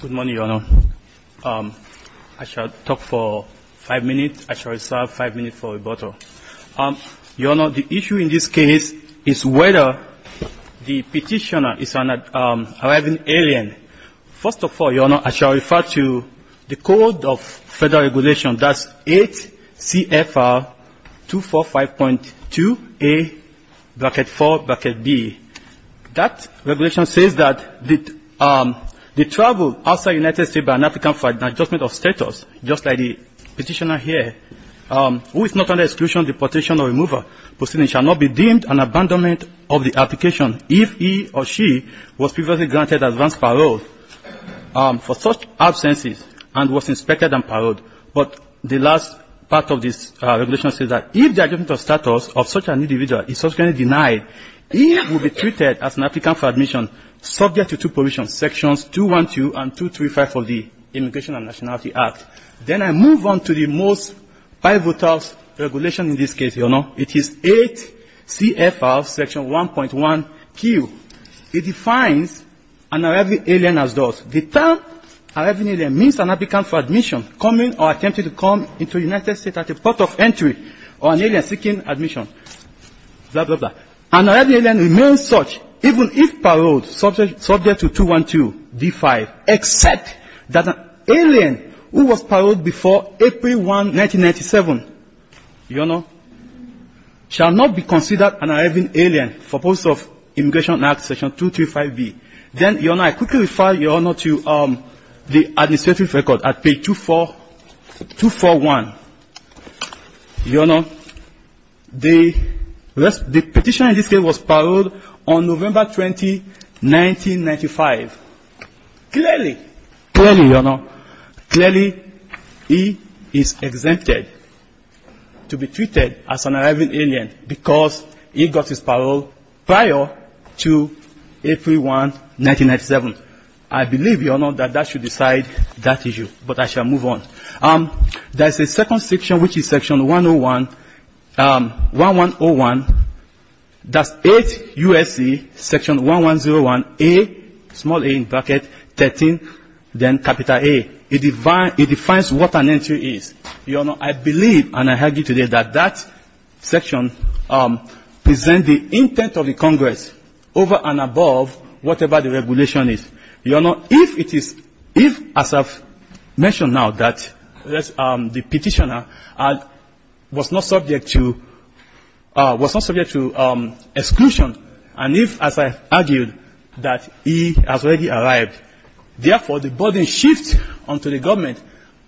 Good morning, Your Honor. I shall talk for five minutes. I shall reserve five minutes for rebuttal. Your Honor, the issue in this case is whether the petitioner is an arriving alien. First of all, Your Honor, I shall refer to the Code of Federal Regulations, that's 8 CFR 245.2A-4-B. That regulation says that the travel outside the United States by an African for an adjustment of status, just like the petitioner here, who is not under exclusion, deportation, or removal proceeding, shall not be deemed an abandonment of the application if he or she was previously granted advance parole for such absences and was inspected and paroled. But the last part of this regulation says that if the adjustment of status of such an individual is subsequently denied, he or she will be treated as an African for admission subject to two provisions, sections 212 and 235 of the Immigration and Nationality Act. Then I move on to the most pivotal regulation in this case, Your Honor. It is 8 CFR section 1.1Q. It defines an arriving alien as thus. The term arriving alien means an African for admission coming or attempting to come into the United States at the port of entry or an alien seeking admission, blah, blah, blah. An arriving alien remains such even if paroled subject to 212 D-5, except that an alien who was paroled before April 1, 1997, Your Honor, shall not be considered an arriving alien for purpose of Immigration and Nationality Act section 235-B. Then, Your Honor, I quickly refer, Your Honor, to the administrative record at page 241. Your Honor, the petition in this case was paroled on November 20, 1995. Clearly, Your Honor, clearly he is exempted to be treated as an arriving alien because he got his parole prior to April 1, 1997. I believe, Your Honor, that that should decide that issue, but I shall move on. There is a second section, which is section 101. That's 8 U.S.C. section 1101A, small a in bracket, 13, then capital A. It defines what an entry is. Your Honor, I believe and I argue today that that section presents the intent of the Congress over and above whatever the regulation is. Your Honor, if it is, if, as I've mentioned now, that the petitioner was not subject to exclusion, and if, as I've argued, that he has already arrived, therefore, the body shifts onto the government,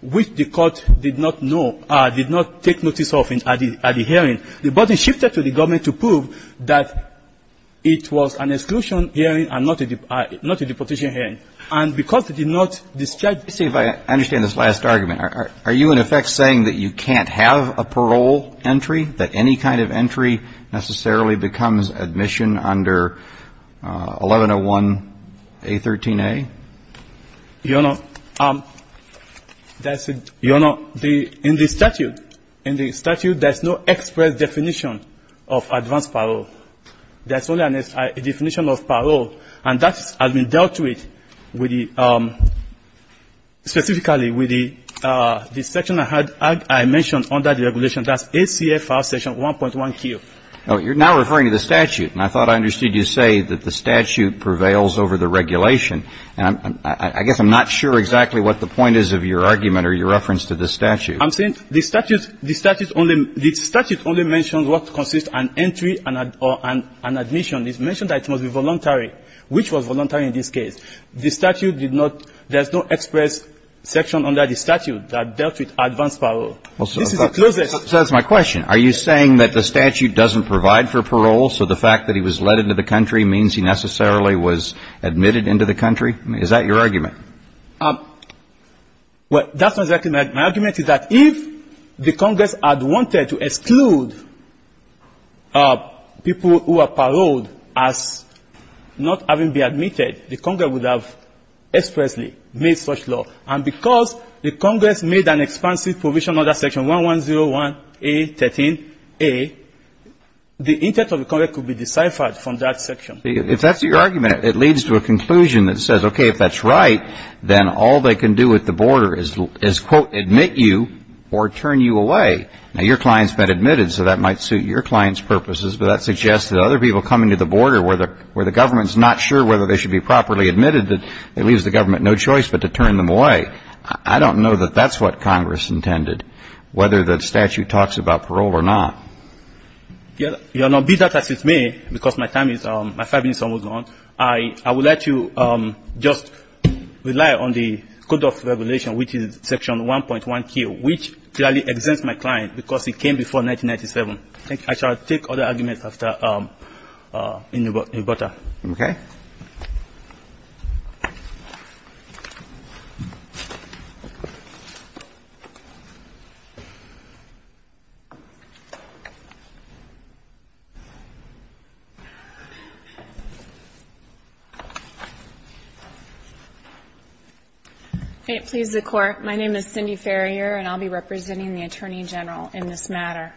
which the court did not know, did not take notice of at the hearing. The body shifted to the government to prove that it was an exclusion hearing and not a, not a deportation hearing. And because it did not discharge the same. I understand this last argument. Are you, in effect, saying that you can't have a parole entry, that any kind of entry necessarily becomes admission under 1101A, 13A? Your Honor, that's a, your Honor, the, in the statute, in the statute, there's no express definition of advanced parole. There's only a definition of parole, and that has been dealt with with the, specifically with the section I had, I mentioned under the regulation. That's ACA file section 1.1Q. Well, you're now referring to the statute, and I thought I understood you say that the statute prevails over the regulation. And I guess I'm not sure exactly what the point is of your argument or your reference to the statute. I'm saying the statute, the statute only, the statute only mentions what consists an entry or an admission. It's mentioned that it must be voluntary, which was voluntary in this case. The statute did not, there's no express section under the statute that dealt with advanced parole. This is the closest. So that's my question. Are you saying that the statute doesn't provide for parole, so the fact that he was let into the country means he necessarily was admitted into the country? Is that your argument? Well, that's not exactly my argument, is that if the Congress had wanted to exclude people who are paroled as not having been admitted, the Congress would have expressly made such law. And because the Congress made an expansive provision under section 1101A.13A, the intent of the Congress could be deciphered from that section. If that's your argument, it leads to a conclusion that says, okay, if that's right, then all they can do at the border is, quote, admit you or turn you away. Now, your client's been admitted, so that might suit your client's purposes, but that suggests that other people coming to the border where the government's not sure whether they should be properly admitted, that it leaves the government no choice but to turn them away. I don't know that that's what Congress intended, whether the statute talks about parole or not. Your Honor, be that as it may, because my time is almost gone, I would like to just rely on the Code of Regulation, which is section 1.1K, which clearly exempts my client because it came before 1997. I shall take other arguments in the border. Okay. Thank you, Your Honor. May it please the Court, my name is Cindy Farrier, and I'll be representing the Attorney General in this matter.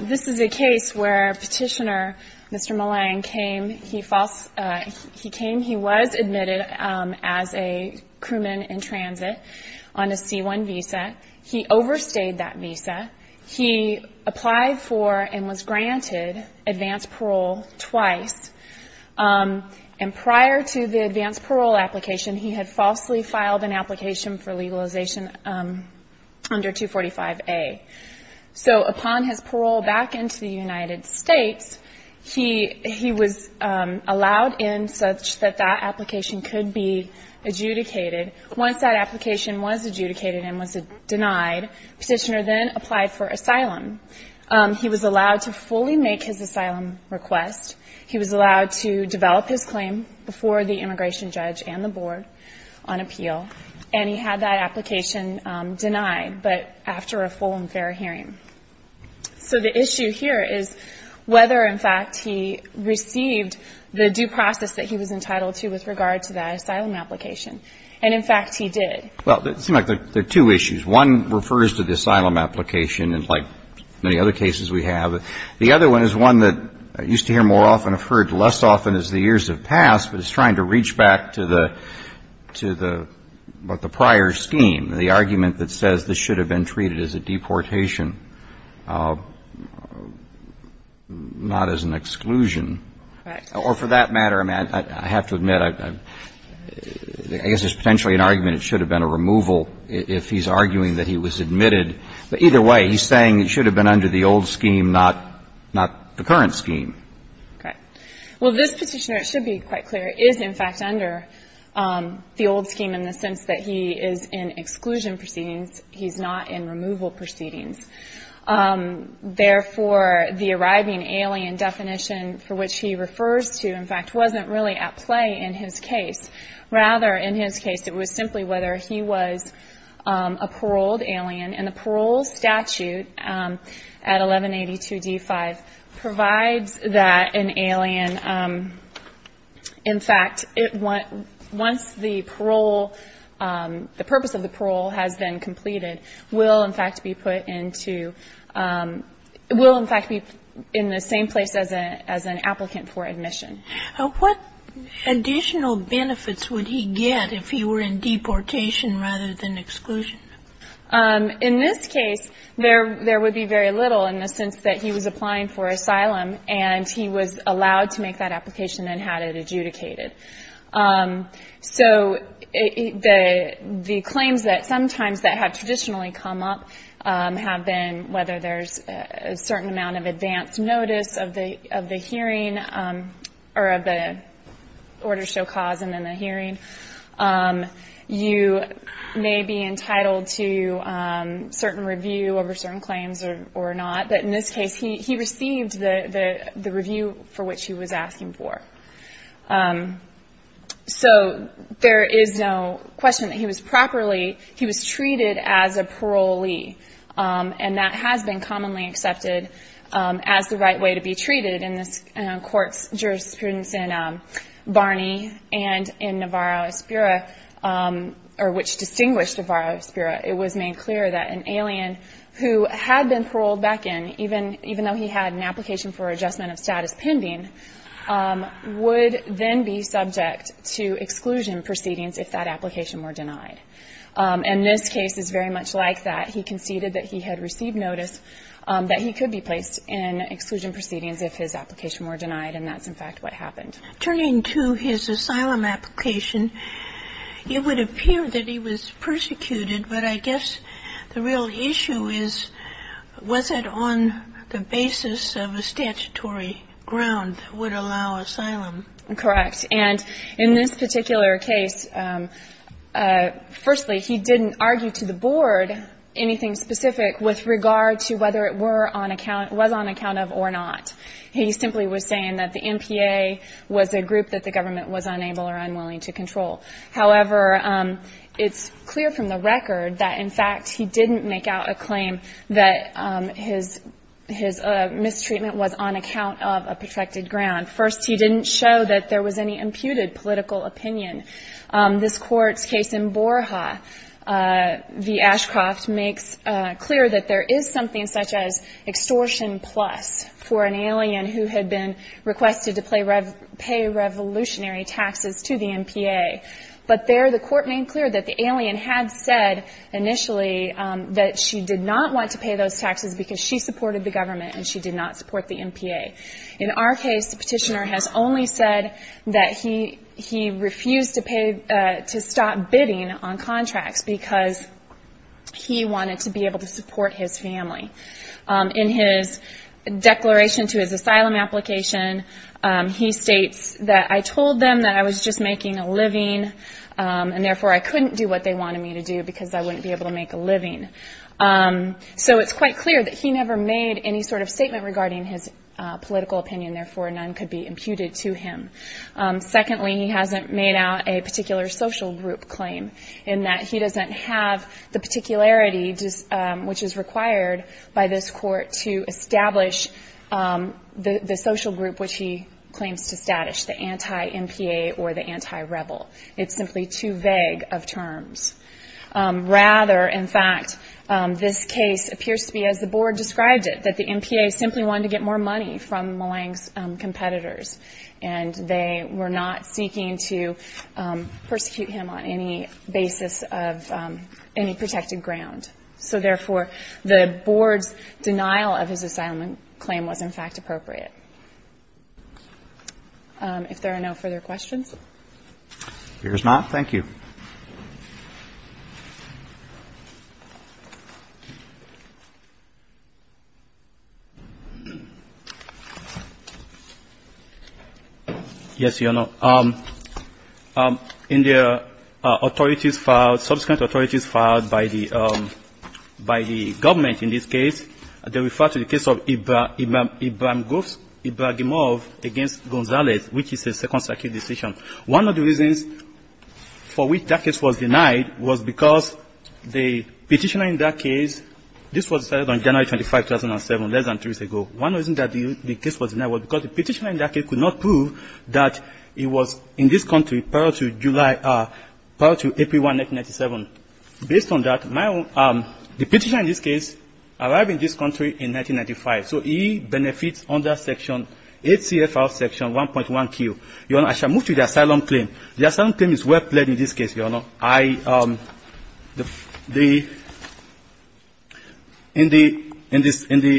This is a case where Petitioner Mr. Malang came. He came, he was admitted as a crewman in transit on a C-1 visa. He overstayed that visa. He applied for and was granted advance parole twice, and prior to the advance parole application, he had falsely filed an application for legalization under 245A. So upon his parole back into the United States, he was allowed in such that that application could be adjudicated. Once that application was adjudicated and was denied, Petitioner then applied for asylum. He was allowed to fully make his asylum request. He was allowed to develop his claim before the immigration judge and the board on appeal, and he had that application denied, but after a full and fair hearing. So the issue here is whether, in fact, he received the due process that he was entitled to with regard to that asylum application. And, in fact, he did. Well, it seems like there are two issues. One refers to the asylum application, like many other cases we have. The other one is one that I used to hear more often, I've heard less often as the years have passed, but it's trying to reach back to the prior scheme, the argument that says this should have been treated as a deportation, not as an exclusion. Right. Or for that matter, I have to admit, I guess there's potentially an argument it should have been a removal if he's arguing that he was admitted, but either way, he's saying it should have been under the old scheme, not the current scheme. Right. Well, this petitioner, it should be quite clear, is, in fact, under the old scheme in the sense that he is in exclusion proceedings. He's not in removal proceedings. Therefore, the arriving alien definition for which he refers to, in fact, wasn't really at play in his case. Rather, in his case, it was simply whether he was a paroled alien, and the parole statute at 1182D5 provides that an alien, in fact, once the parole, the purpose of the parole has been completed, will, in fact, be put into, will, in fact, be in the same place as an applicant for admission. What additional benefits would he get if he were in deportation rather than exclusion? In this case, there would be very little in the sense that he was applying for asylum and he was allowed to make that application and had it adjudicated. So the claims that sometimes that have traditionally come up have been whether there's a certain amount of advance notice of the hearing or of the order show cause and then the hearing. You may be entitled to certain review over certain claims or not. But in this case, he received the review for which he was asking for. So there is no question that he was properly, he was treated as a parolee, and that has been commonly accepted as the right way to be treated. In this court's jurisprudence in Barney and in Navarro-Espera, or which distinguished Navarro-Espera, it was made clear that an alien who had been paroled back in, even though he had an application for adjustment of status pending, would then be subject to exclusion proceedings if that application were denied. And this case is very much like that. He conceded that he had received notice that he could be placed in exclusion proceedings if his application were denied, and that's, in fact, what happened. Sotomayor, turning to his asylum application, it would appear that he was persecuted, but I guess the real issue is was it on the basis of a statutory ground that would allow asylum? Correct. And in this particular case, firstly, he didn't argue to the board anything specific with regard to whether it were on account, was on account of or not. He simply was saying that the MPA was a group that the government was unable or unwilling to control. However, it's clear from the record that, in fact, he didn't make out a claim that his mistreatment was on account of a protected ground. First, he didn't show that there was any imputed political opinion. This Court's case in Borja v. Ashcroft makes clear that there is something such as extortion plus for an alien who had been requested to pay revolutionary taxes to the MPA. But there the Court made clear that the alien had said initially that she did not want to pay those taxes because she supported the government and she did not support the MPA. In our case, the petitioner has only said that he refused to stop bidding on contracts because he wanted to be able to support his family. In his declaration to his asylum application, he states that, I told them that I was just making a living and, therefore, I couldn't do what they wanted me to do because I wouldn't be able to make a living. So it's quite clear that he never made any sort of statement regarding his political opinion. Therefore, none could be imputed to him. Secondly, he hasn't made out a particular social group claim in that he doesn't have the particularity which is required by this Court to establish the social group which he claims to status, the anti-MPA or the anti-rebel. It's simply too vague of terms. Rather, in fact, this case appears to be, as the Board described it, that the MPA simply wanted to get more money from Malang's competitors and they were not seeking to persecute him on any basis of any protected ground. So, therefore, the Board's denial of his asylum claim was, in fact, appropriate. If there are no further questions. If there's not, thank you. Yes, Your Honor. In the authorities filed, subsequent authorities filed by the government in this case, they referred to the case of Ibrahimov against Gonzalez, which is a Second Circuit decision. One of the reasons for which that case was denied was because the petitioner in that case, this was decided on January 25, 2007, less than three years ago. One reason that the case was denied was because the petitioner in that case could not prove that he was in this country prior to July, prior to April 1, 1997. Based on that, the petitioner in this case arrived in this country in 1995, so he benefits under Section 8 CFR Section 1.1Q. Your Honor, I shall move to the asylum claim. The asylum claim is well played in this case, Your Honor. In the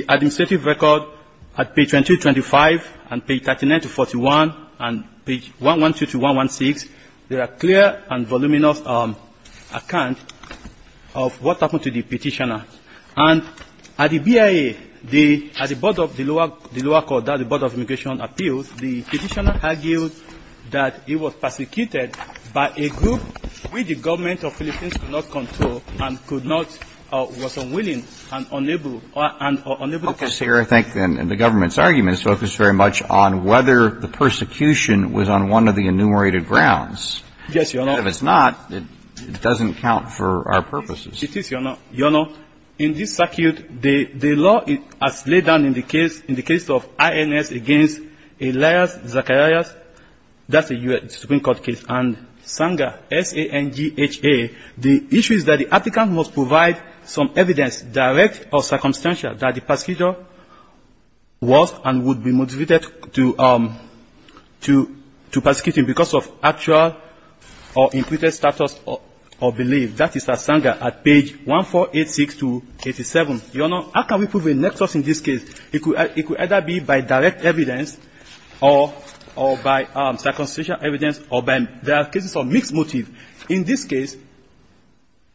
administrative record at page 2225 and page 39-41 and page 112-116, there are clear and voluminous accounts of what happened to the petitioner. And at the BIA, at the board of the lower court, the board of immigration appeals, the petitioner argued that he was persecuted by a group which the government of Philippines could not control and could not or was unwilling and unable or unable to control. Okay. So you're, I think, in the government's argument, on whether the persecution was on one of the enumerated grounds. Yes, Your Honor. And if it's not, it doesn't count for our purposes. It is, Your Honor. Your Honor, in this circuit, the law as laid down in the case, in the case of INS against Elias Zacharias, that's a U.S. Supreme Court case, and Sanga, S-A-N-G-H-A, the issue is that the applicant must provide some evidence, direct or circumstantial, that the persecutor was and would be motivated to persecute him because of actual or included status or belief. That is S-A-N-G-H-A at page 1486-87. Your Honor, how can we prove a nexus in this case? It could either be by direct evidence or by circumstantial evidence or by, there are cases of mixed motive. In this case,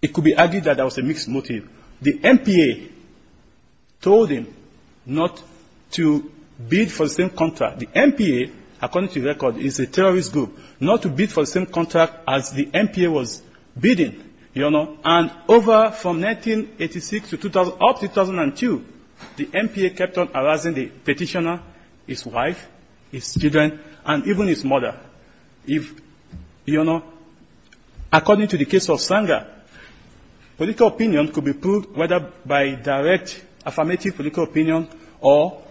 it could be argued that there was a mixed motive. The MPA told him not to bid for the same contract. The MPA, according to the record, is a terrorist group, not to bid for the same contract as the MPA was bidding, Your Honor. And over from 1986 to up to 2002, the MPA kept on harassing the petitioner, his wife, his children, and even his mother. If, Your Honor, according to the case of Sanga, political opinion could be proved whether by direct affirmative political opinion or.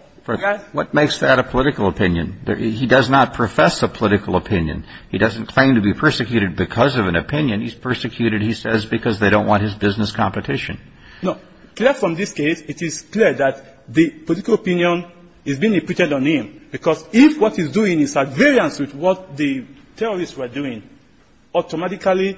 What makes that a political opinion? He does not profess a political opinion. He doesn't claim to be persecuted because of an opinion. He's persecuted, he says, because they don't want his business competition. No. Clear from this case, it is clear that the political opinion is being repeated on him. Because if what he's doing is a variance with what the terrorists were doing, automatically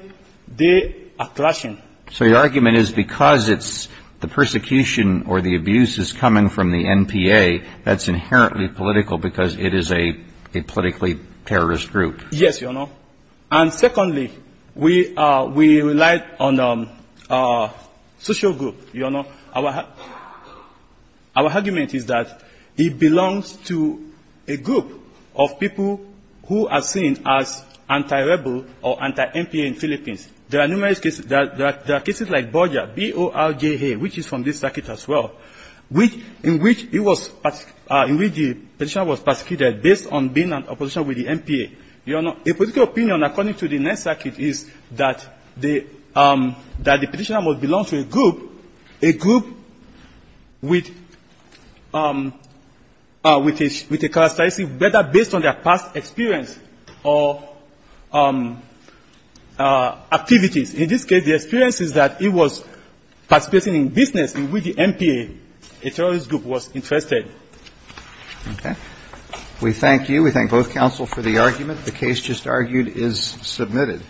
they are clashing. So your argument is because it's the persecution or the abuse is coming from the MPA, that's inherently political because it is a politically terrorist group. Yes, Your Honor. And secondly, we relied on a social group, Your Honor. Our argument is that he belongs to a group of people who are seen as anti-rebel or anti-MPA in Philippines. There are numerous cases. There are cases like Borja, B-O-R-J-A, which is from this circuit as well, in which he was, in which the petitioner was persecuted based on being in opposition with the MPA. Your Honor, a political opinion, according to the next circuit, is that the petitioner must belong to a group, a group with a characteristic whether based on their past experience or activities. In this case, the experience is that he was participating in business with the MPA, a terrorist group was interested. Okay. We thank you. We thank both counsel for the argument. The case just argued is submitted.